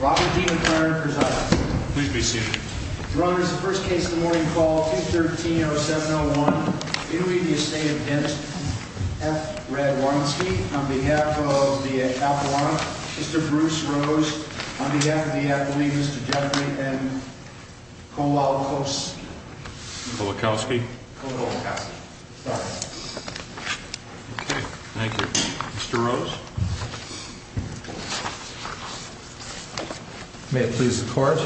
Robert D. McClernand, presiding. Please be seated. Your Honor, this is the first case of the morning, call 213-0701, in re the Estate of F. Radwanski, on behalf of the Capilano, Mr. Bruce Rose, on behalf of the, I believe, Mr. Jeffrey M. Kowalkowski. Kowalkowski. Kowalkowski. Sorry. Okay. Thank you. Mr. Rose? May it please the Court.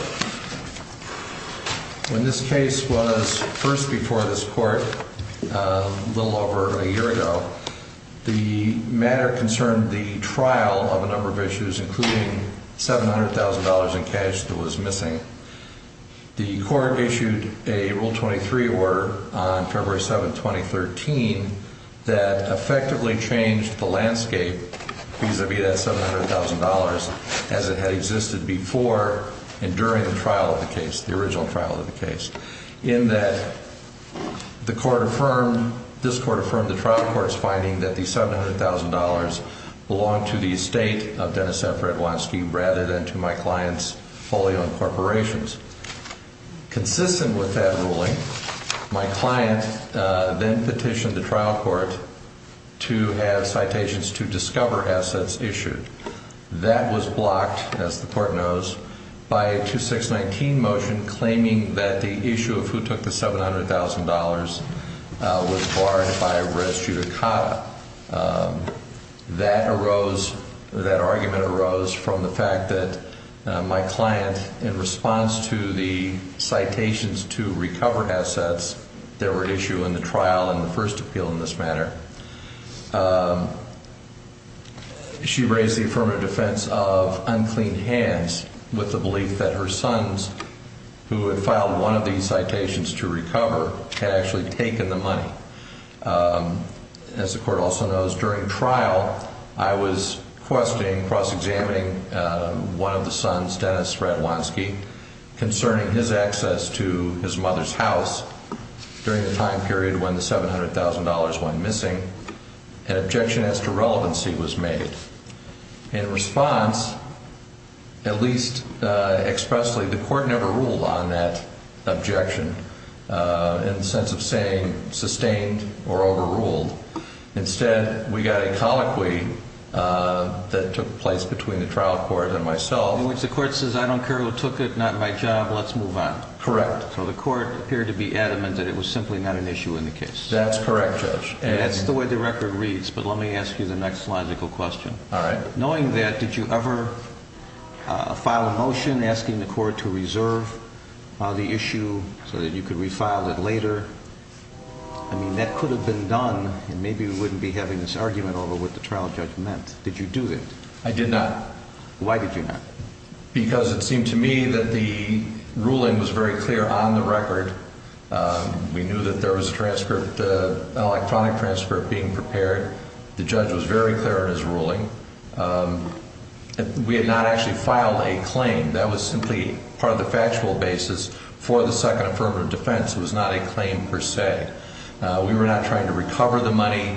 When this case was first before this Court a little over a year ago, the matter concerned the trial of a number of issues, including $700,000 in cash that was missing. The Court issued a Rule 23 order on February 7, 2013, that effectively changed the landscape vis-à-vis that $700,000 as it had existed before and during the trial of the case, the original trial of the case. In that the Court affirmed, this Court affirmed the trial court's finding that the $700,000 belonged to the Estate of Dennis F. Radwanski rather than to my client's fully owned corporations. Consistent with that ruling, my client then petitioned the trial court to have citations to discover assets issued. That was blocked, as the Court knows, by a 2619 motion claiming that the issue of who took the $700,000 was barred by res judicata. That arose, that argument arose from the fact that my client, in response to the citations to recover assets that were issued in the trial and the first appeal in this matter, she raised the affirmative defense of unclean hands with the belief that her sons, who had filed one of these citations to recover, had actually taken the money. As the Court also knows, during trial, I was questioning, cross-examining one of the sons, Dennis Radwanski, concerning his access to his mother's house during the time period when the $700,000 went missing. An objection as to relevancy was made. In response, at least expressly, the Court never ruled on that objection in the sense of saying sustained or overruled. Instead, we got a colloquy that took place between the trial court and myself. In which the Court says, I don't care who took it, not my job, let's move on. Correct. So the Court appeared to be adamant that it was simply not an issue in the case. That's correct, Judge. That's the way the record reads, but let me ask you the next logical question. All right. Knowing that, did you ever file a motion asking the Court to reserve the issue so that you could refile it later? I mean, that could have been done, and maybe we wouldn't be having this argument over what the trial judge meant. Did you do that? I did not. Why did you not? Because it seemed to me that the ruling was very clear on the record. We knew that there was an electronic transcript being prepared. The judge was very clear in his ruling. We had not actually filed a claim. That was simply part of the factual basis for the Second Affirmative Defense. It was not a claim per se. We were not trying to recover the money.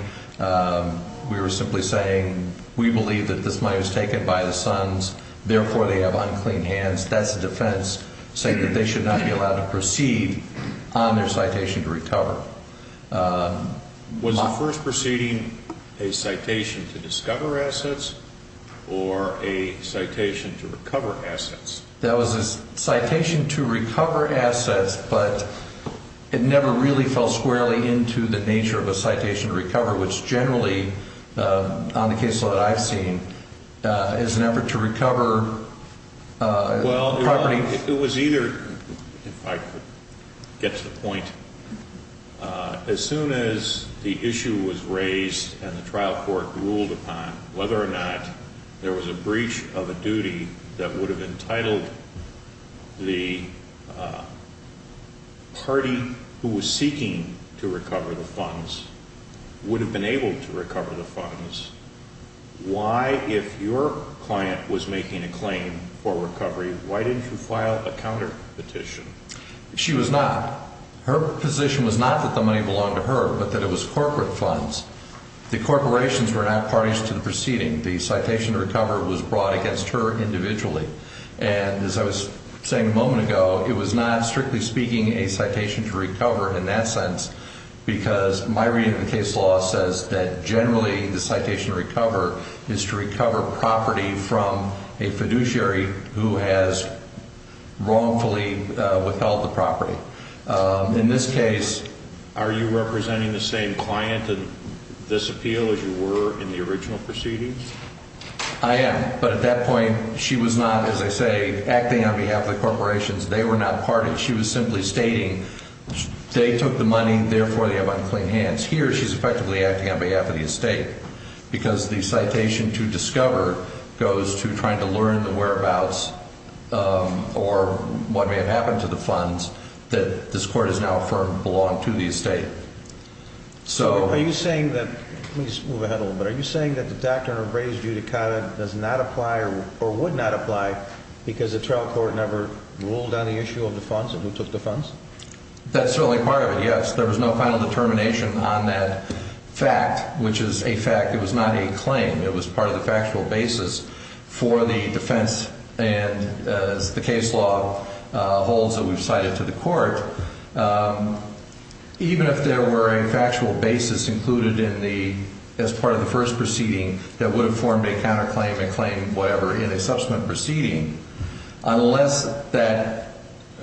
We were simply saying, we believe that this money was taken by the sons. Therefore, they have unclean hands. That's a defense saying that they should not be allowed to proceed on their citation to recover. Was the first proceeding a citation to discover assets or a citation to recover assets? That was a citation to recover assets, but it never really fell squarely into the nature of a citation to recover, which generally, on the case law that I've seen, is an effort to recover property. Well, it was either, if I could get to the point, as soon as the issue was raised and the trial court ruled upon whether or not there was a breach of a duty that would have entitled the party who was seeking to recover the funds would have been able to recover the funds. Why, if your client was making a claim for recovery, why didn't you file a counterpetition? She was not. Her position was not that the money belonged to her, but that it was corporate funds. The corporations were not parties to the proceeding. The citation to recover was brought against her individually. And as I was saying a moment ago, it was not, strictly speaking, a citation to recover in that sense because my reading of the case law says that generally the citation to recover is to recover property from a fiduciary who has wrongfully withheld the property. In this case, are you representing the same client in this appeal as you were in the original proceedings? I am, but at that point she was not, as I say, acting on behalf of the corporations. They were not parties. At that point she was simply stating they took the money, therefore they have unclean hands. Here she's effectively acting on behalf of the estate because the citation to discover goes to trying to learn the whereabouts or what may have happened to the funds that this court has now affirmed belonged to the estate. Are you saying that the doctrine of raised judicata does not apply or would not apply because the trial court never ruled on the issue of the funds and who took the funds? That's certainly part of it, yes. There was no final determination on that fact, which is a fact. It was not a claim. It was part of the factual basis for the defense and the case law holds that we've cited to the court. Even if there were a factual basis included as part of the first proceeding that would have formed a counterclaim, a claim, whatever, in a subsequent proceeding, unless that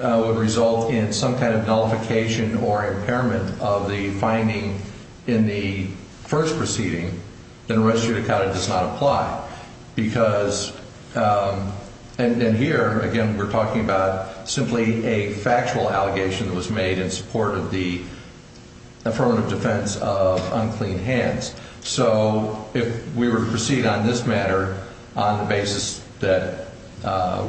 would result in some kind of nullification or impairment of the finding in the first proceeding, then raised judicata does not apply because, and here, again, we're talking about simply a factual allegation that was made in support of the affirmative defense of unclean hands. So if we were to proceed on this matter on the basis that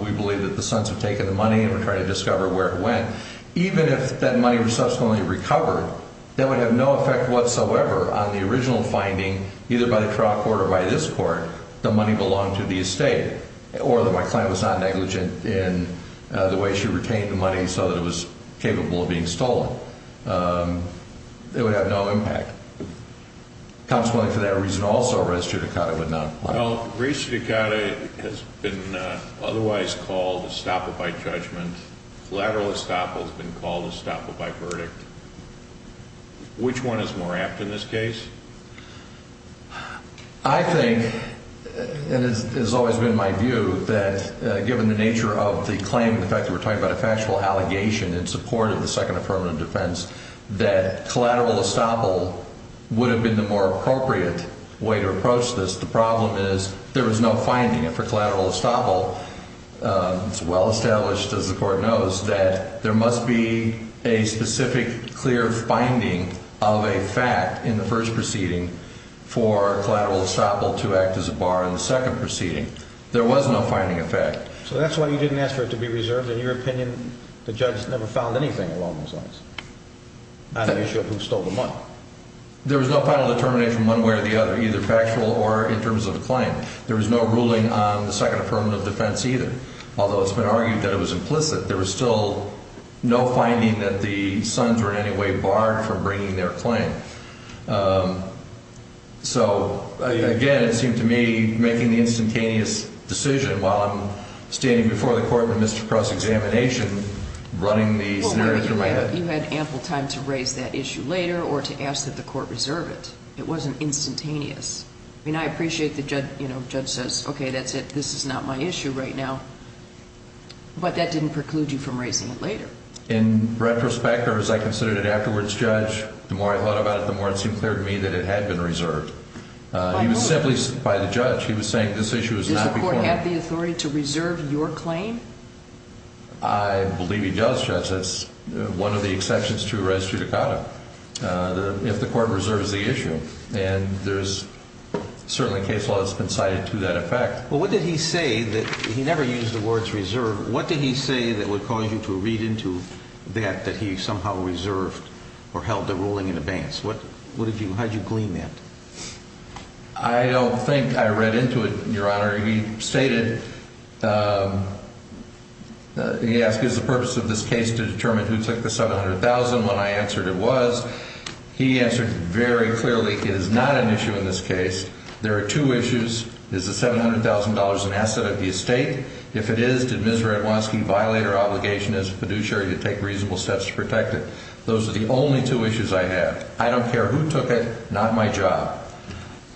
we believe that the sons have taken the money and we're trying to discover where it went, even if that money were subsequently recovered, that would have no effect whatsoever on the original finding, either by the trial court or by this court, the money belonged to the estate or that my client was not negligent in the way she retained the money so that it was capable of being stolen. It would have no impact. Consequently, for that reason also, raised judicata would not apply. Well, raised judicata has been otherwise called estoppel by judgment. Collateral estoppel has been called estoppel by verdict. Which one is more apt in this case? I think, and it has always been my view, that given the nature of the claim, the fact that we're talking about a factual allegation in support of the second affirmative defense, that collateral estoppel would have been the more appropriate way to approach this. The problem is there was no finding. And for collateral estoppel, it's well established, as the court knows, that there must be a specific clear finding of a fact in the first proceeding for collateral estoppel to act as a bar in the second proceeding. There was no finding of fact. So that's why you didn't ask for it to be reserved. In your opinion, the judge never found anything along those lines on the issue of who stole the money. There was no final determination one way or the other, either factual or in terms of the claim. There was no ruling on the second affirmative defense either. Although it's been argued that it was implicit, there was still no finding that the sons were in any way barred from bringing their claim. So, again, it seemed to me making the instantaneous decision while I'm standing before the court in a misdepressed examination running the scenario through my head. You had ample time to raise that issue later or to ask that the court reserve it. It wasn't instantaneous. I mean, I appreciate the judge says, okay, that's it, this is not my issue right now. In retrospect, or as I considered it afterwards, Judge, the more I thought about it, the more it seemed clear to me that it had been reserved. It was simply by the judge. He was saying this issue was not before me. Does the court have the authority to reserve your claim? I believe he does, Judge. That's one of the exceptions to res judicata, if the court reserves the issue. And there's certainly case law that's been cited to that effect. Well, what did he say? He never used the words reserve. What did he say that would cause you to read into that that he somehow reserved or held the ruling in advance? How did you glean that? I don't think I read into it, Your Honor. He stated, he asked, is the purpose of this case to determine who took the $700,000? When I answered it was. He answered very clearly it is not an issue in this case. There are two issues. Is the $700,000 an asset of the estate? If it is, did Ms. Radwanski violate her obligation as a fiduciary to take reasonable steps to protect it? Those are the only two issues I have. I don't care who took it, not my job.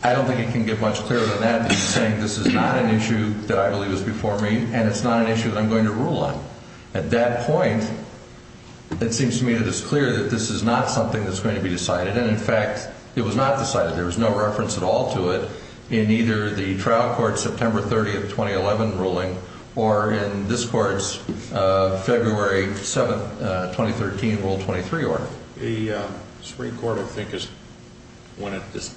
I don't think it can get much clearer than that that he's saying this is not an issue that I believe is before me, and it's not an issue that I'm going to rule on. At that point, it seems to me that it's clear that this is not something that's going to be decided. And, in fact, it was not decided. There was no reference at all to it in either the trial court September 30 of 2011 ruling or in this court's February 7, 2013 Rule 23 order. The Supreme Court, I think, is one that just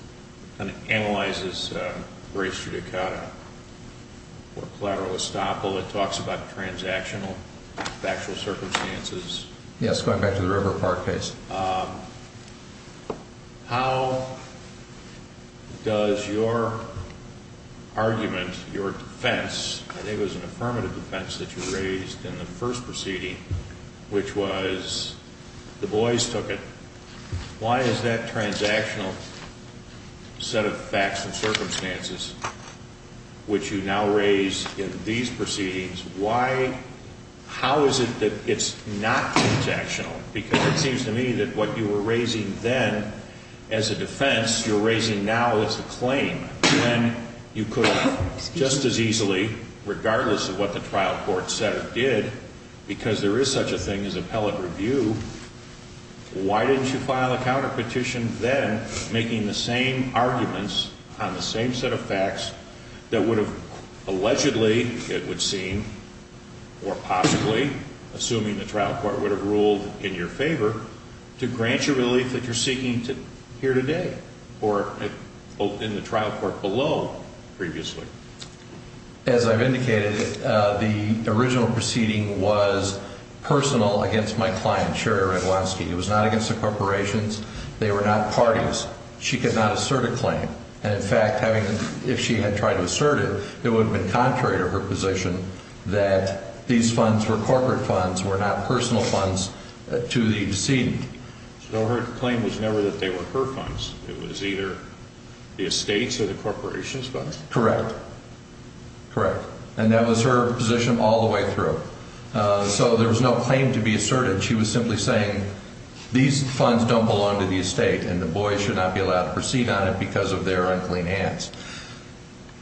kind of analyzes race judicata or collateral estoppel. It talks about transactional factual circumstances. Yes, going back to the River Park case. How does your argument, your defense, I think it was an affirmative defense that you raised in the first proceeding, which was the boys took it. Why is that transactional set of facts and circumstances, which you now raise in these proceedings, how is it that it's not transactional? Because it seems to me that what you were raising then as a defense, you're raising now as a claim, when you could have just as easily, regardless of what the trial court said or did, because there is such a thing as appellate review, why didn't you file a counterpetition then making the same arguments on the same set of facts that would have allegedly, it would seem, or possibly, assuming the trial court would have ruled in your favor, to grant you relief that you're seeking here today or in the trial court below previously? As I've indicated, the original proceeding was personal against my client, Sherry Radwanski. It was not against the corporations. She could not assert a claim. And in fact, if she had tried to assert it, it would have been contrary to her position that these funds were corporate funds, were not personal funds to the decedent. So her claim was never that they were her funds. It was either the estates or the corporations' funds? Correct. Correct. And that was her position all the way through. So there was no claim to be asserted. She was simply saying these funds don't belong to the estate and the boys should not be allowed to proceed on it because of their unclean hands.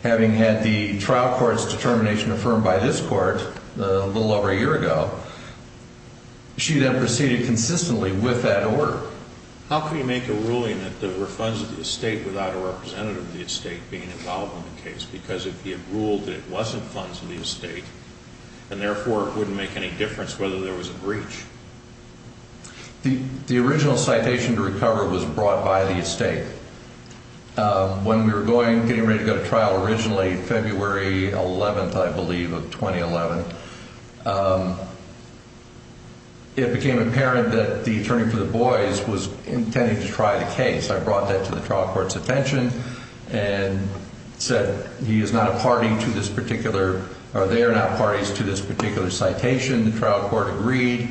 Having had the trial court's determination affirmed by this court a little over a year ago, she then proceeded consistently with that order. How can you make a ruling that there were funds of the estate without a representative of the estate being involved in the case? Because if you ruled that it wasn't funds of the estate and therefore it wouldn't make any difference whether there was a breach. The original citation to recover was brought by the estate. When we were going, getting ready to go to trial originally February 11th, I believe, of 2011, it became apparent that the attorney for the boys was intending to try the case. I brought that to the trial court's attention and said he is not a party to this particular, or they are not parties to this particular citation. The trial court agreed,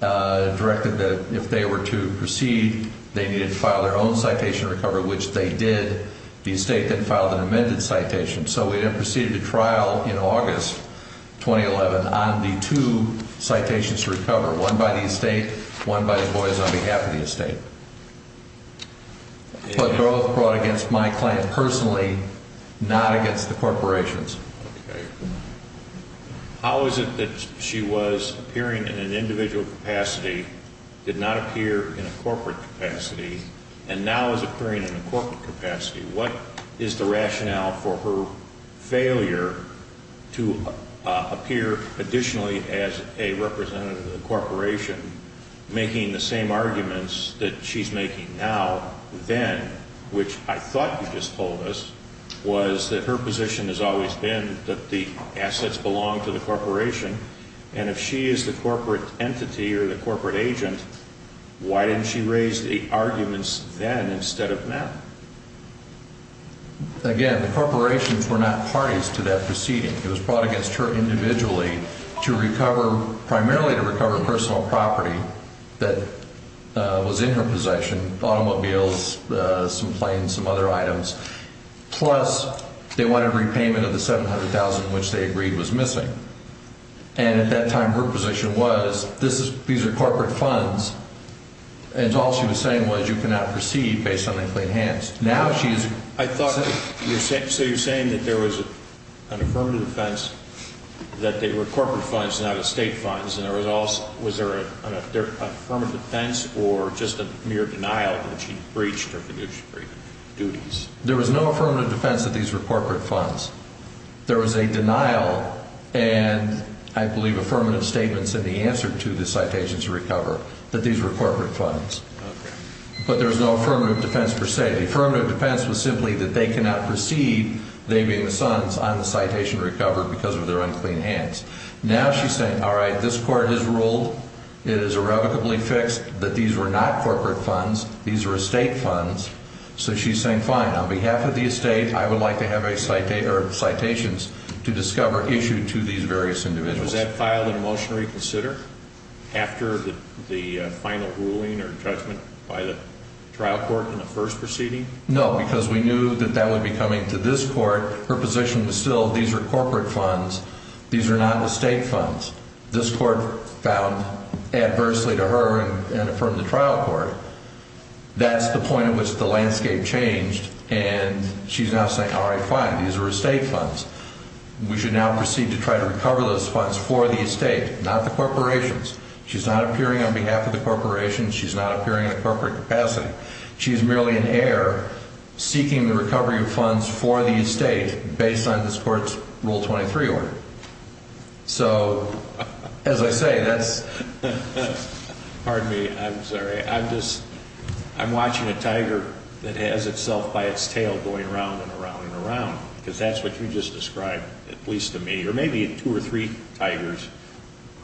directed that if they were to proceed, they needed to file their own citation to recover, which they did. The estate then filed an amended citation. So we then proceeded to trial in August 2011 on the two citations to recover, one by the estate, one by the boys on behalf of the estate. But both brought against my client personally, not against the corporations. Okay. How is it that she was appearing in an individual capacity, did not appear in a corporate capacity, and now is appearing in a corporate capacity? What is the rationale for her failure to appear additionally as a representative of the corporation, making the same arguments that she's making now, then, which I thought you just told us, was that her position has always been that the assets belong to the corporation, and if she is the corporate entity or the corporate agent, why didn't she raise the arguments then instead of now? Again, the corporations were not parties to that proceeding. It was brought against her individually to recover, primarily to recover personal property that was in her possession, automobiles, some planes, some other items, plus they wanted repayment of the $700,000, which they agreed was missing. And at that time, her position was, these are corporate funds, and all she was saying was you cannot proceed based on the clean hands. So you're saying that there was an affirmative defense, that they were corporate funds, not estate funds, and was there an affirmative defense or just a mere denial that she breached her fiduciary duties? There was no affirmative defense that these were corporate funds. There was a denial and, I believe, affirmative statements in the answer to the citation to recover, that these were corporate funds. But there was no affirmative defense per se. The affirmative defense was simply that they cannot proceed, they being the sons, on the citation to recover because of their unclean hands. Now she's saying, all right, this court has ruled, it is irrevocably fixed, that these were not corporate funds, these were estate funds. So she's saying, fine, on behalf of the estate, I would like to have citations to discover issued to these various individuals. Was that filed in a motion to reconsider after the final ruling or judgment by the trial court in the first proceeding? No, because we knew that that would be coming to this court. Her position was still, these are corporate funds, these are not estate funds. This court found adversely to her and affirmed the trial court. That's the point at which the landscape changed and she's now saying, all right, fine, these are estate funds. We should now proceed to try to recover those funds for the estate, not the corporations. She's not appearing on behalf of the corporations. She's not appearing in a corporate capacity. She's merely in error seeking the recovery of funds for the estate based on this court's Rule 23 order. So, as I say, that's... Pardon me, I'm sorry. I'm just, I'm watching a tiger that has itself by its tail going around and around and around, because that's what you just described, at least to me, or maybe two or three tigers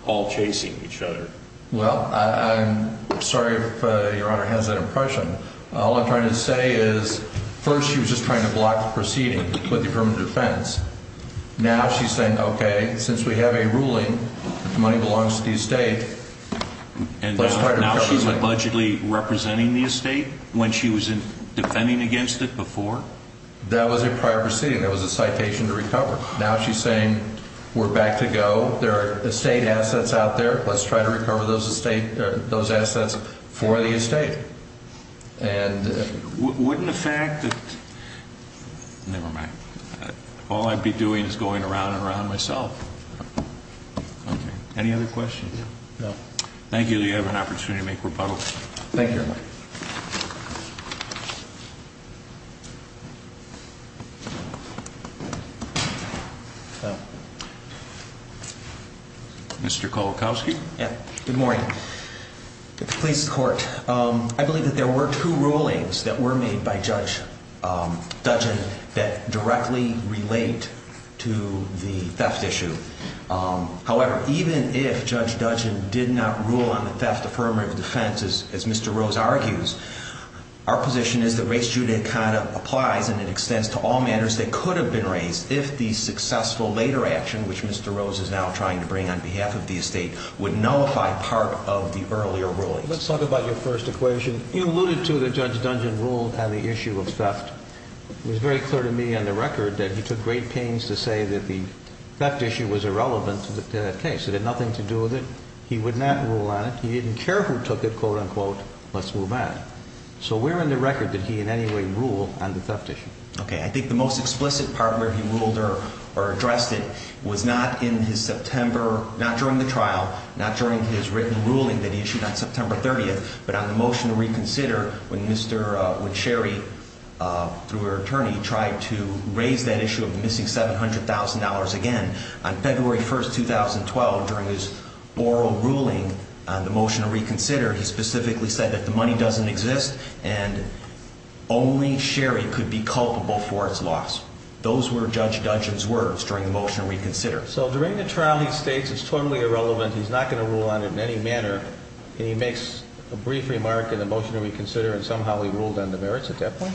all chasing each other. Well, I'm sorry if Your Honor has that impression. All I'm trying to say is, first she was just trying to block the proceeding with the affirmative defense. Now she's saying, okay, since we have a ruling that the money belongs to the estate, let's try to recover it. And now she's budgetly representing the estate when she was defending against it before? That was a prior proceeding. That was a citation to recover. Now she's saying, we're back to go. There are estate assets out there. Let's try to recover those assets for the estate. And wouldn't the fact that... Never mind. All I'd be doing is going around and around myself. Okay. Any other questions? No. Thank you. You have an opportunity to make rebuttals. Thank you, Your Honor. Mr. Kowalkowski? Yeah. Good morning. Please, court. I believe that there were two rulings that were made by Judge Duggan that directly relate to the theft issue. However, even if Judge Duggan did not rule on the theft affirmative defense, as Mr. Rose argues, our position is that res judicata applies and it extends to all matters that could have been raised if the successful later action, which Mr. Rose is now trying to bring on behalf of the estate, would nullify part of the earlier rulings. Let's talk about your first equation. You alluded to that Judge Duggan ruled on the issue of theft. It was very clear to me on the record that he took great pains to say that the theft issue was irrelevant to that case. It had nothing to do with it. He would not rule on it. He didn't care who took it, quote, unquote. Let's move on. So where on the record did he in any way rule on the theft issue? Okay, I think the most explicit part where he ruled or addressed it was not in his September, not during the trial, not during his written ruling that he issued on September 30th, but on the motion to reconsider when Mr. Sherry, through her attorney, tried to raise that issue of the missing $700,000 again. On February 1st, 2012, during his oral ruling on the motion to reconsider, he specifically said that the money doesn't exist and only Sherry could be culpable for its loss. Those were Judge Duggan's words during the motion to reconsider. So during the trial he states it's totally irrelevant, he's not going to rule on it in any manner, and he makes a brief remark in the motion to reconsider and somehow he ruled on the merits at that point?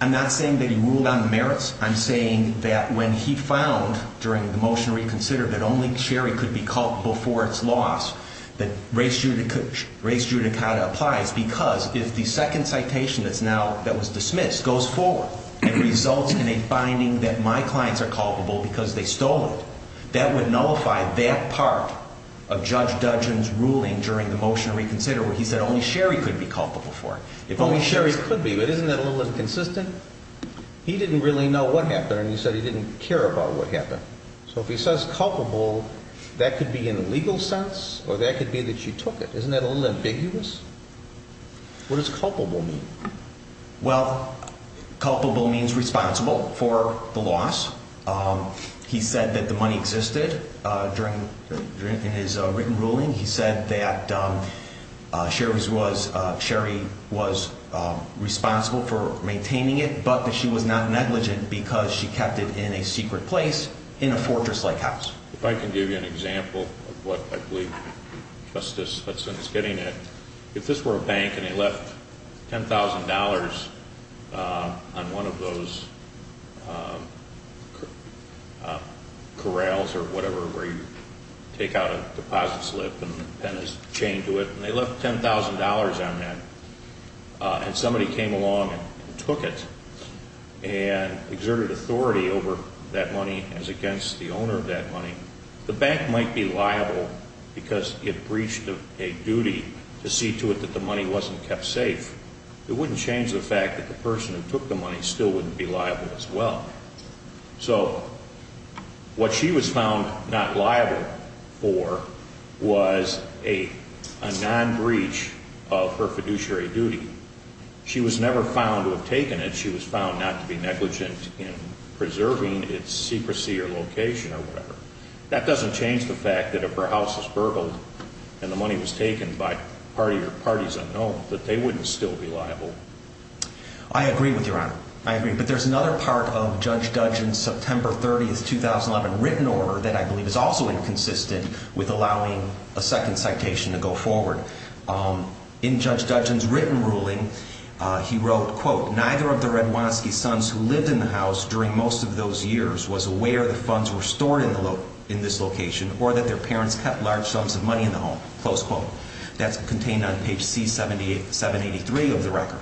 I'm not saying that he ruled on the merits. I'm saying that when he found during the motion to reconsider that only Sherry could be culpable for its loss, that res judicata applies because if the second citation that was dismissed goes forward and results in a finding that my clients are culpable because they stole it, that would nullify that part of Judge Duggan's ruling during the motion to reconsider where he said only Sherry could be culpable for it. If only Sherry could be, but isn't that a little inconsistent? He didn't really know what happened and he said he didn't care about what happened. So if he says culpable, that could be in a legal sense or that could be that she took it. Isn't that a little ambiguous? What does culpable mean? Well, culpable means responsible for the loss. He said that the money existed during his written ruling. He said that Sherry was responsible for maintaining it, but that she was not negligent because she kept it in a secret place in a fortress-like house. If I can give you an example of what I believe Justice Hudson is getting at, if this were a bank and they left $10,000 on one of those corrals or whatever where you take out a deposit slip and pin a chain to it, and they left $10,000 on that and somebody came along and took it and exerted authority over that money as against the owner of that money, the bank might be liable because it breached a duty to see to it that the money wasn't kept safe. It wouldn't change the fact that the person who took the money still wouldn't be liable as well. So what she was found not liable for was a non-breach of her fiduciary duty. She was never found to have taken it. She was found not to be negligent in preserving its secrecy or location or whatever. That doesn't change the fact that if her house was burgled and the money was taken by party or parties unknown, that they wouldn't still be liable. I agree with you, Your Honor. I agree. But there's another part of Judge Duggan's September 30th, 2011 written order that I believe is also inconsistent with allowing a second citation to go forward. In Judge Duggan's written ruling, he wrote, quote, neither of the Radwanski sons who lived in the house during most of those years was aware that funds were stored in this location or that their parents kept large sums of money in the home. Close quote. That's contained on page C783 of the record.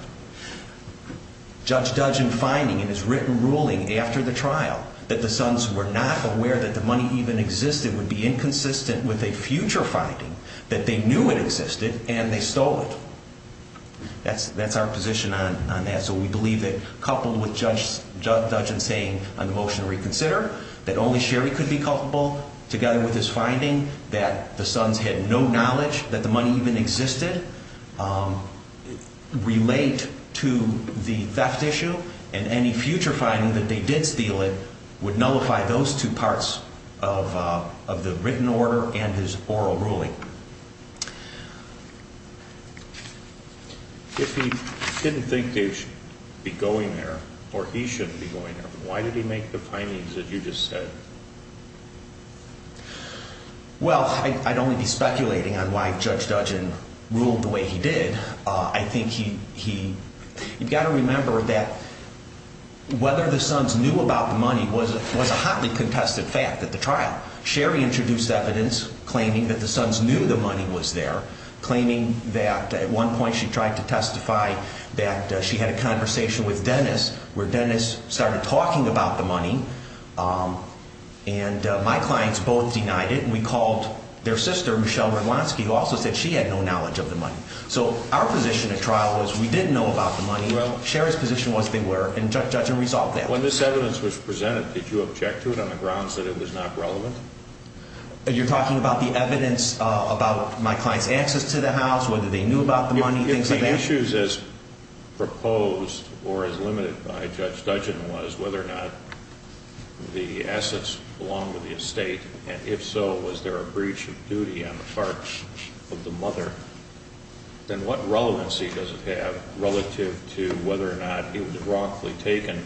Judge Duggan finding in his written ruling after the trial that the sons were not aware that the money even existed would be inconsistent with a future finding that they knew it existed and they stole it. That's our position on that. So we believe that coupled with Judge Duggan saying on the motion to reconsider that only Sherry could be culpable together with his finding that the sons had no knowledge that the money even existed relate to the theft issue and any future finding that they did steal it would nullify those two parts of the written order and his oral ruling. If he didn't think they should be going there or he shouldn't be going there, why did he make the findings that you just said? Well, I'd only be speculating on why Judge Duggan ruled the way he did. I think he, you've got to remember that whether the sons knew about the money was a hotly contested fact at the trial. Sherry introduced evidence claiming that the sons knew the money was there, claiming that at one point she tried to testify that she had a conversation with Dennis where Dennis started talking about the money, and my clients both denied it. We called their sister, Michelle Radlansky, who also said she had no knowledge of the money. So our position at trial was we didn't know about the money. Sherry's position was they were, and Judge Duggan resolved that. When this evidence was presented, did you object to it on the grounds that it was not relevant? You're talking about the evidence about my client's access to the house, whether they knew about the money, things like that? If the issues as proposed or as limited by Judge Duggan was whether or not the assets belonged to the estate, and if so, was there a breach of duty on the part of the mother, then what relevancy does it have relative to whether or not it was wrongfully taken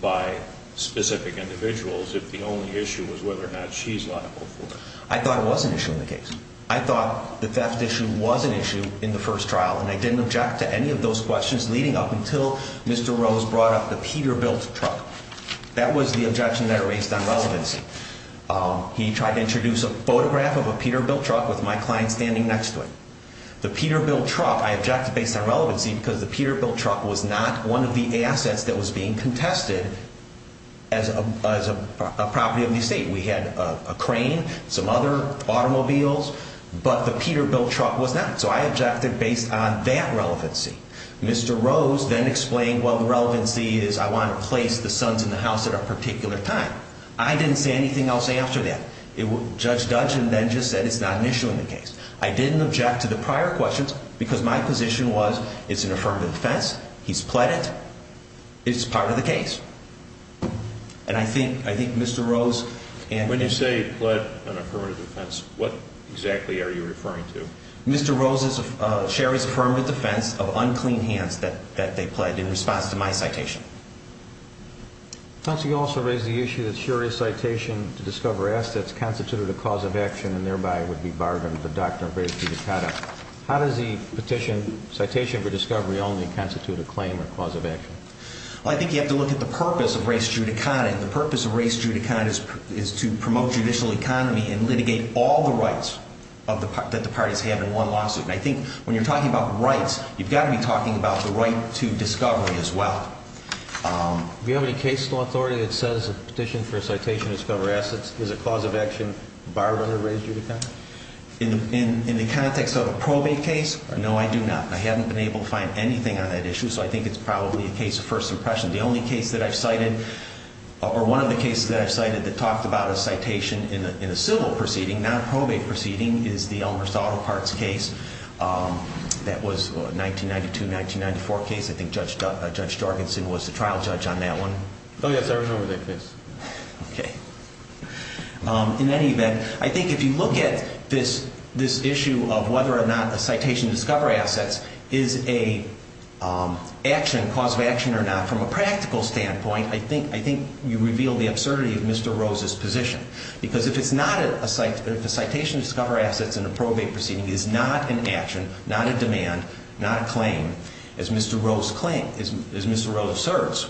by specific individuals if the only issue was whether or not she's liable for it? I thought it was an issue in the case. I thought the theft issue was an issue in the first trial, and I didn't object to any of those questions leading up until Mr. Rose brought up the Peterbilt truck. That was the objection that I raised on relevancy. He tried to introduce a photograph of a Peterbilt truck with my client standing next to it. The Peterbilt truck, I objected based on relevancy because the Peterbilt truck was not one of the assets that was being contested as a property of the estate. We had a crane, some other automobiles, but the Peterbilt truck was not, so I objected based on that relevancy. Mr. Rose then explained, well, the relevancy is I want to place the sons in the house at a particular time. I didn't say anything else after that. Judge Duggan then just said it's not an issue in the case. I didn't object to the prior questions because my position was it's an affirmative defense. He's pled it. It's part of the case. When you say he pled an affirmative defense, what exactly are you referring to? Mr. Rose, Sherry's affirmative defense of unclean hands that they pled in response to my citation. Counsel, you also raised the issue that Sherry's citation to discover assets constituted a cause of action and thereby would be bargained for Dr. Ray Fiducata. How does the petition citation for discovery only constitute a claim or cause of action? Well, I think you have to look at the purpose of Ray Fiducata, and the purpose of Ray Fiducata is to promote judicial economy and litigate all the rights that the parties have in one lawsuit. And I think when you're talking about rights, you've got to be talking about the right to discovery as well. Do you have any case law authority that says a petition for citation to discover assets is a cause of action barred under Ray Fiducata? In the context of a probate case, no, I do not. I haven't been able to find anything on that issue, so I think it's probably a case of first impression. The only case that I've cited, or one of the cases that I've cited that talked about a citation in a civil proceeding, not a probate proceeding, is the Elmer Saldo Parts case that was a 1992-1994 case. I think Judge Jorgensen was the trial judge on that one. Oh, yes, I remember that case. Okay. In any event, I think if you look at this issue of whether or not a citation to discover assets is a cause of action or not, from a practical standpoint, I think you reveal the absurdity of Mr. Rose's position. Because if a citation to discover assets in a probate proceeding is not an action, not a demand, not a claim, as Mr. Rose claimed, as Mr. Rose asserts,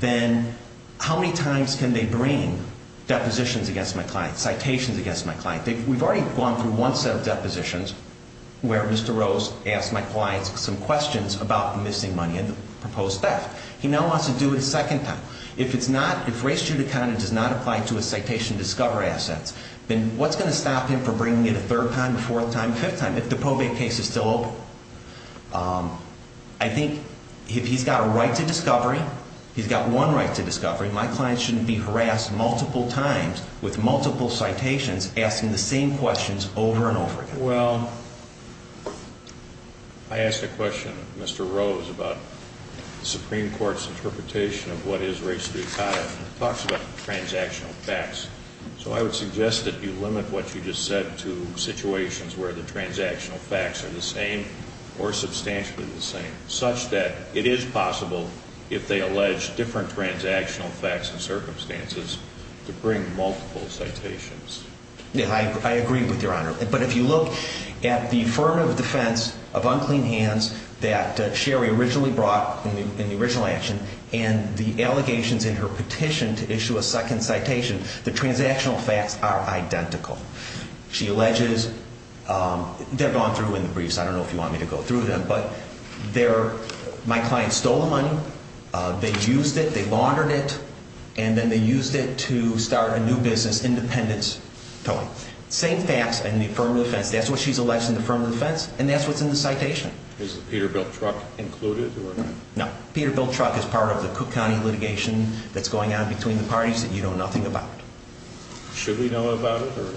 then how many times can they bring depositions against my client, citations against my client? We've already gone through one set of depositions where Mr. Rose asked my client some questions about the missing money and the proposed theft. He now wants to do it a second time. If it's not, if Ray Fiducata does not apply to a citation to discover assets, then what's going to stop him from bringing it a third time, a fourth time, a fifth time if the probate case is still open? I think if he's got a right to discovery, he's got one right to discovery, my client shouldn't be harassed multiple times with multiple citations asking the same questions over and over again. Well, I asked a question, Mr. Rose, about the Supreme Court's interpretation of what is Ray Fiducata. It talks about transactional facts. So I would suggest that you limit what you just said to situations where the transactional facts are the same or substantially the same, such that it is possible, if they allege different transactional facts and circumstances, to bring multiple citations. Yeah, I agree with Your Honor. But if you look at the affirmative defense of unclean hands that Sherry originally brought in the original action and the allegations in her petition to issue a second citation, the transactional facts are identical. She alleges, they're gone through in the briefs, I don't know if you want me to go through them, but my client stole the money, they used it, they laundered it, and then they used it to start a new business, independence towing. Same facts in the affirmative defense. That's what she's alleged in the affirmative defense, and that's what's in the citation. Is the Peterbilt truck included? No. Peterbilt truck is part of the Cook County litigation that's going on between the parties that you know nothing about. Should we know about it, or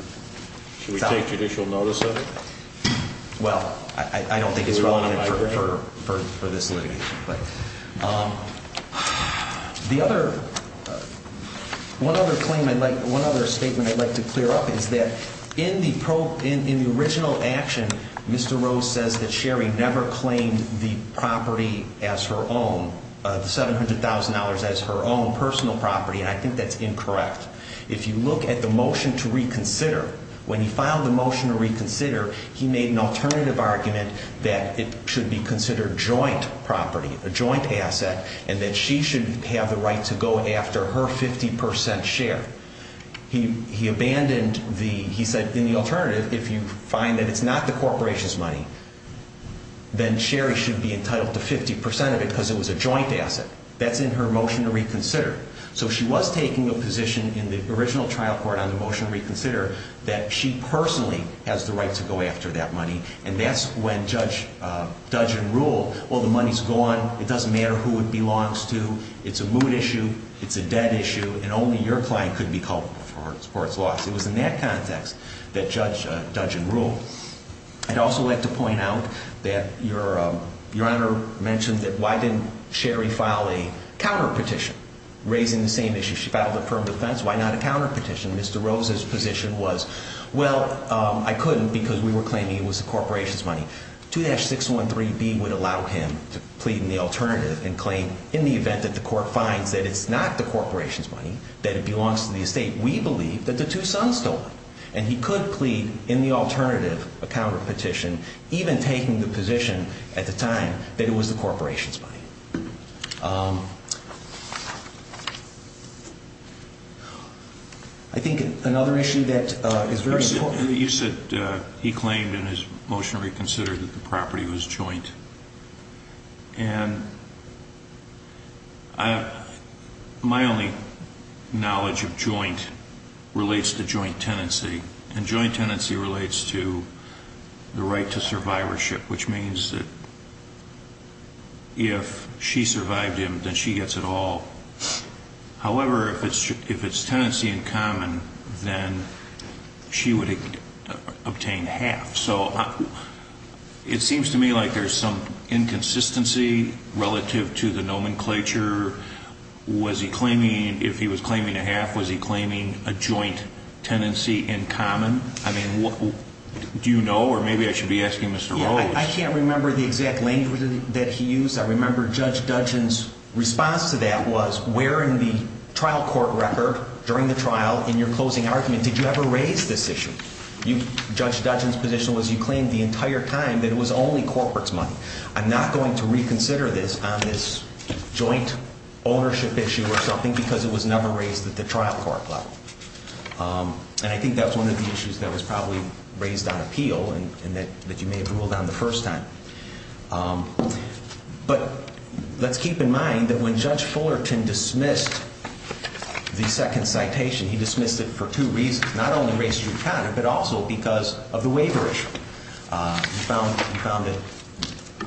should we take judicial notice of it? Well, I don't think it's relevant for this litigation. The other, one other claim I'd like, one other statement I'd like to clear up is that in the original action, Mr. Rose says that Sherry never claimed the property as her own, the $700,000 as her own personal property, and I think that's incorrect. If you look at the motion to reconsider, when he filed the motion to reconsider, he made an alternative argument that it should be considered joint property, a joint asset, and that she should have the right to go after her 50% share. He abandoned the, he said in the alternative, if you find that it's not the corporation's money, then Sherry should be entitled to 50% of it because it was a joint asset. That's in her motion to reconsider. So she was taking a position in the original trial court on the motion to reconsider that she personally has the right to go after that money, and that's when Judge Dungeon ruled, well, the money's gone, it doesn't matter who it belongs to, it's a mood issue, it's a debt issue, and only your client could be culpable for its loss. It was in that context that Judge Dungeon ruled. I'd also like to point out that Your Honor mentioned that why didn't Sherry file a counterpetition? Raising the same issue, she filed a firm defense, why not a counterpetition? Mr. Rose's position was, well, I couldn't because we were claiming it was the corporation's money. 2-613B would allow him to plead in the alternative and claim, in the event that the court finds that it's not the corporation's money, that it belongs to the estate, we believe that the two sons stole it. And he could plead in the alternative, a counterpetition, even taking the position at the time that it was the corporation's money. I think another issue that is very important. You said he claimed in his motion to reconsider that the property was joint. And my only knowledge of joint relates to joint tenancy, and joint tenancy relates to the right to survivorship, which means that if she survived him, then she gets it all. However, if it's tenancy in common, then she would obtain half. So it seems to me like there's some inconsistency relative to the nomenclature. If he was claiming a half, was he claiming a joint tenancy in common? Do you know, or maybe I should be asking Mr. Rose? I can't remember the exact language that he used. I remember Judge Dudgeon's response to that was, where in the trial court record during the trial in your closing argument did you ever raise this issue? Judge Dudgeon's position was he claimed the entire time that it was only corporate's money. I'm not going to reconsider this on this joint ownership issue or something because it was never raised at the trial court level. And I think that was one of the issues that was probably raised on appeal and that you may have ruled on the first time. But let's keep in mind that when Judge Fullerton dismissed the second citation, he dismissed it for two reasons. Not only because of race and gender, but also because of the waiver issue. He found that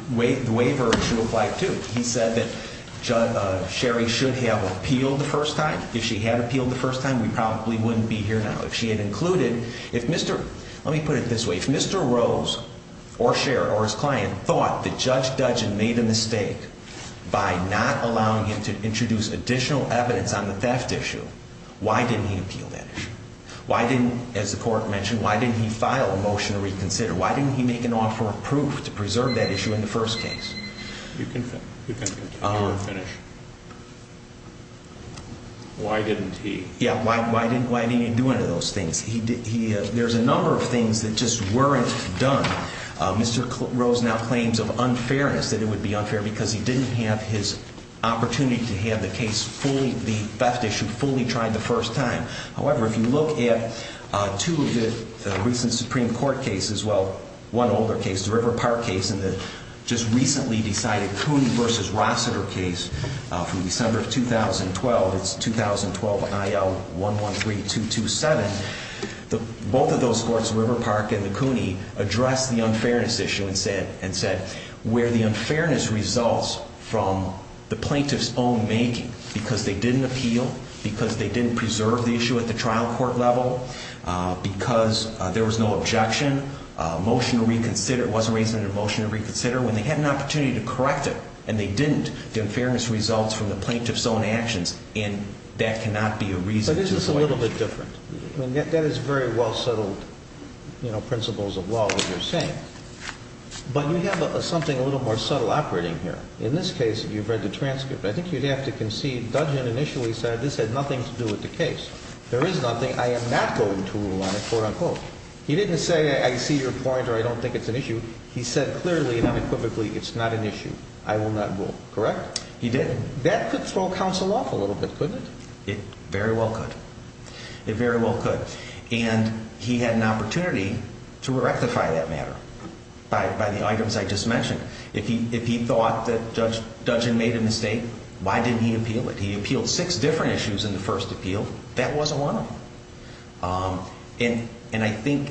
the waiver issue applied too. He said that Sherry should have appealed the first time. If she had appealed the first time, we probably wouldn't be here now. If she had included, if Mr., let me put it this way, if Mr. Rose or Sherry or his client thought that Judge Dudgeon made a mistake by not allowing him to introduce additional evidence on the theft issue, why didn't he appeal that issue? Why didn't, as the court mentioned, why didn't he file a motion to reconsider? Why didn't he make an offer of proof to preserve that issue in the first case? You can continue to finish. Why didn't he? Yeah, why didn't he do any of those things? There's a number of things that just weren't done. Mr. Rose now claims of unfairness, that it would be unfair because he didn't have his opportunity to have the case fully, the theft issue fully tried the first time. However, if you look at two of the recent Supreme Court cases, well, one older case, the River Park case, and the just recently decided Cooney v. Rossiter case from December of 2012, it's 2012 IL 113227. Both of those courts, River Park and the Cooney, addressed the unfairness issue and said, where the unfairness results from the plaintiff's own making because they didn't appeal, because they didn't preserve the issue at the trial court level, because there was no objection, motion to reconsider, it wasn't raised in a motion to reconsider, when they had an opportunity to correct it and they didn't, the unfairness results from the plaintiff's own actions, and that cannot be a reason to file a motion. But isn't this a little bit different? I mean, that is very well settled, you know, principles of law that you're saying. But you have something a little more subtle operating here. In this case, you've read the transcript. I think you'd have to concede. Dudgeon initially said this had nothing to do with the case. There is nothing. I am not going to rule on it, quote, unquote. He didn't say, I see your point or I don't think it's an issue. He said clearly and unequivocally, it's not an issue. I will not rule. Correct? He did. That could throw counsel off a little bit, couldn't it? It very well could. It very well could. And he had an opportunity to rectify that matter by the items I just mentioned. If he thought that Judge Dudgeon made a mistake, why didn't he appeal it? He appealed six different issues in the first appeal. That wasn't one of them. And I think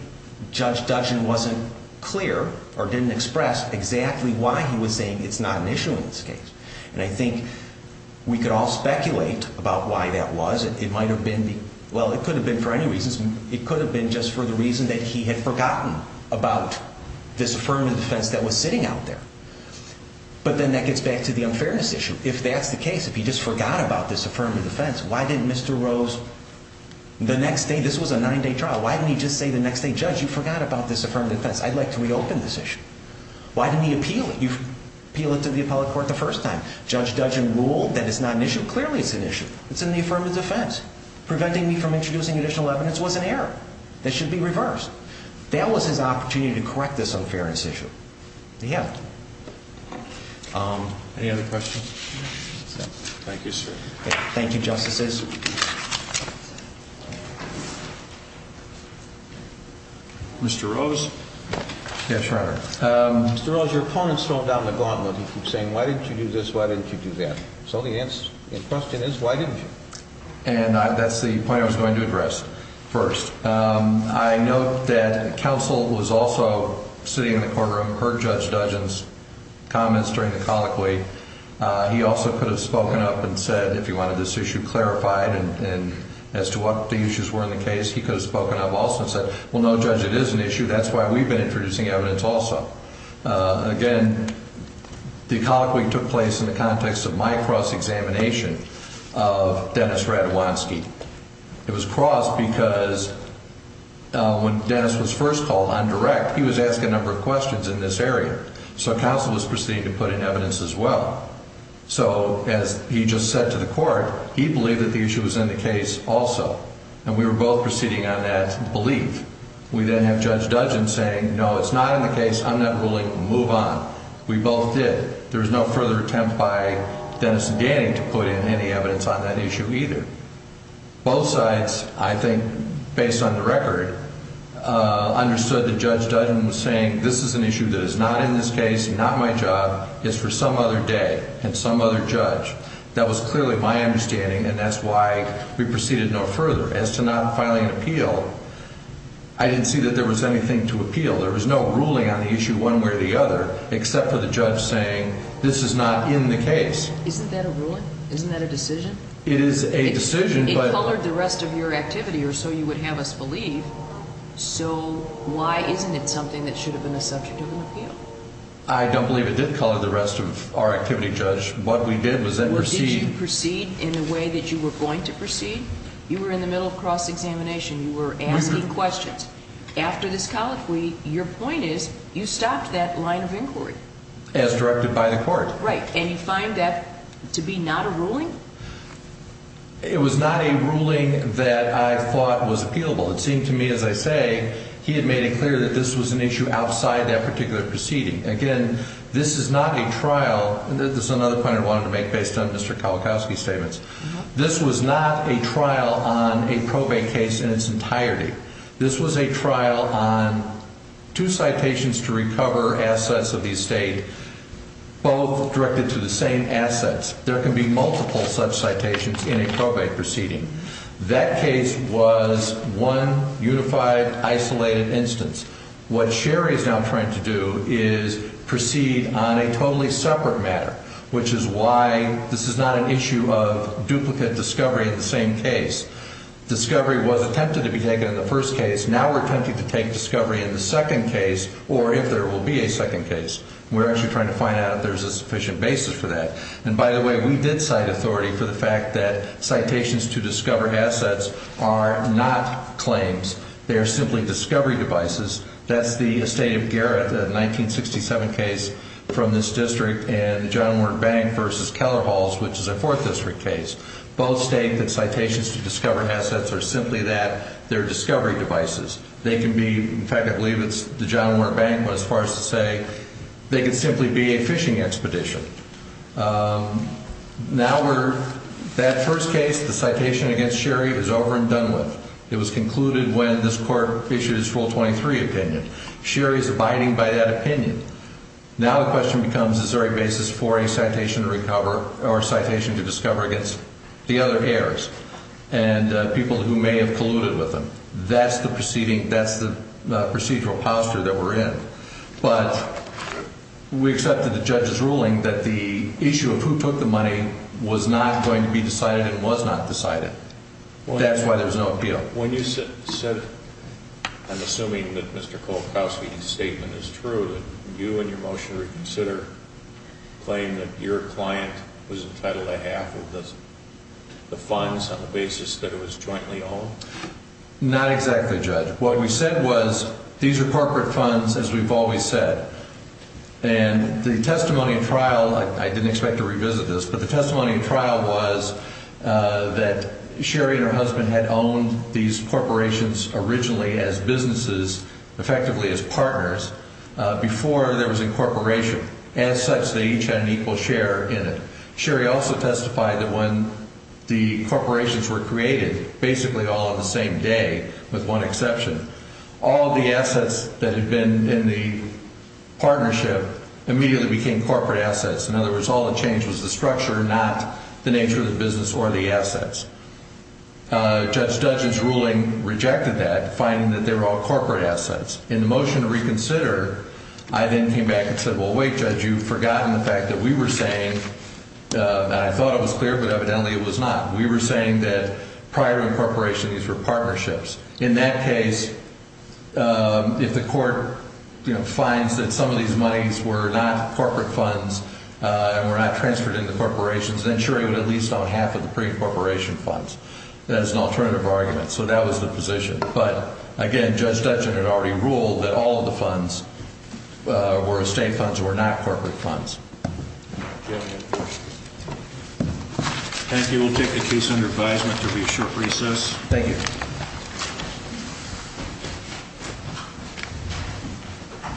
Judge Dudgeon wasn't clear or didn't express exactly why he was saying it's not an issue in this case. And I think we could all speculate about why that was. It might have been the – well, it could have been for any reasons. It could have been just for the reason that he had forgotten about this affirmative defense that was sitting out there. But then that gets back to the unfairness issue. If that's the case, if he just forgot about this affirmative defense, why didn't Mr. Rose – the next day, this was a nine-day trial. Why didn't he just say the next day, Judge, you forgot about this affirmative defense. I'd like to reopen this issue. Why didn't he appeal it? You appealed it to the appellate court the first time. Judge Dudgeon ruled that it's not an issue. Clearly it's an issue. It's in the affirmative defense. Preventing me from introducing additional evidence was an error. This should be reversed. That was his opportunity to correct this unfairness issue. He had it. Any other questions? Thank you, sir. Thank you, Justices. Mr. Rose. Yes, Your Honor. Mr. Rose, your opponent's thrown down the gauntlet. He keeps saying, why didn't you do this, why didn't you do that? So the question is, why didn't you? And that's the point I was going to address first. I note that counsel was also sitting in the courtroom, heard Judge Dudgeon's comments during the colloquy. He also could have spoken up and said, if he wanted this issue clarified as to what the issues were in the case, he could have spoken up also and said, well, no, Judge, it is an issue. That's why we've been introducing evidence also. Again, the colloquy took place in the context of my cross-examination of Dennis Radwanski. It was crossed because when Dennis was first called on direct, he was asked a number of questions in this area. So counsel was proceeding to put in evidence as well. So as he just said to the court, he believed that the issue was in the case also. And we were both proceeding on that belief. We then have Judge Dudgeon saying, no, it's not in the case. I'm not ruling. Move on. We both did. There was no further attempt by Dennis and Danny to put in any evidence on that issue either. Both sides, I think, based on the record, understood that Judge Dudgeon was saying this is an issue that is not in this case, not my job, it's for some other day and some other judge. That was clearly my understanding, and that's why we proceeded no further. As to not filing an appeal, I didn't see that there was anything to appeal. There was no ruling on the issue one way or the other except for the judge saying this is not in the case. Isn't that a ruling? Isn't that a decision? It is a decision. It colored the rest of your activity or so you would have us believe. So why isn't it something that should have been a subject of an appeal? I don't believe it did color the rest of our activity, Judge. What we did was then proceed. Did you proceed in a way that you were going to proceed? You were in the middle of cross-examination. You were asking questions. After this colloquy, your point is you stopped that line of inquiry. As directed by the court. Right, and you find that to be not a ruling? It was not a ruling that I thought was appealable. It seemed to me, as I say, he had made it clear that this was an issue outside that particular proceeding. Again, this is not a trial. This is another point I wanted to make based on Mr. Kolakowski's statements. This was not a trial on a probate case in its entirety. This was a trial on two citations to recover assets of the estate, both directed to the same assets. There can be multiple such citations in a probate proceeding. That case was one unified, isolated instance. What Sherry is now trying to do is proceed on a totally separate matter, which is why this is not an issue of duplicate discovery in the same case. Discovery was attempted to be taken in the first case. Now we're attempting to take discovery in the second case, or if there will be a second case. We're actually trying to find out if there's a sufficient basis for that. And by the way, we did cite authority for the fact that citations to discover assets are not claims. They are simply discovery devices. That's the estate of Garrett, a 1967 case from this district, and the John Ward Bank v. Keller Halls, which is a Fourth District case. Both state that citations to discover assets are simply that, they're discovery devices. They can be, in fact I believe it's the John Ward Bank, but as far as to say they could simply be a fishing expedition. Now we're, that first case, the citation against Sherry, is over and done with. It was concluded when this court issued its Rule 23 opinion. Sherry is abiding by that opinion. Now the question becomes is there a basis for a citation to recover, or a citation to discover against the other heirs and people who may have colluded with them. That's the proceeding, that's the procedural posture that we're in. But we accepted the judge's ruling that the issue of who took the money was not going to be decided and was not decided. That's why there was no appeal. When you said, I'm assuming that Mr. Cole-Cosby's statement is true, that you in your motion to reconsider claim that your client was entitled to half of the funds on the basis that it was jointly owned? Not exactly, Judge. What we said was these are corporate funds, as we've always said. And the testimony in trial, I didn't expect to revisit this, but the testimony in trial was that Sherry and her husband had owned these corporations originally as businesses, effectively as partners, before there was incorporation. As such, they each had an equal share in it. Sherry also testified that when the corporations were created, basically all on the same day with one exception, all of the assets that had been in the partnership immediately became corporate assets. In other words, all that changed was the structure, not the nature of the business or the assets. Judge Dudge's ruling rejected that, finding that they were all corporate assets. In the motion to reconsider, I then came back and said, well, wait, Judge, you've forgotten the fact that we were saying, and I thought it was clear, but evidently it was not, we were saying that prior to incorporation, these were partnerships. In that case, if the court finds that some of these monies were not corporate funds and were not transferred into corporations, then Sherry would at least own half of the pre-incorporation funds. That is an alternative argument. So that was the position. But, again, Judge Dudge had already ruled that all of the funds were estate funds, were not corporate funds. Thank you. We'll take the case under advisement. There will be a short recess. Thank you. Thank you.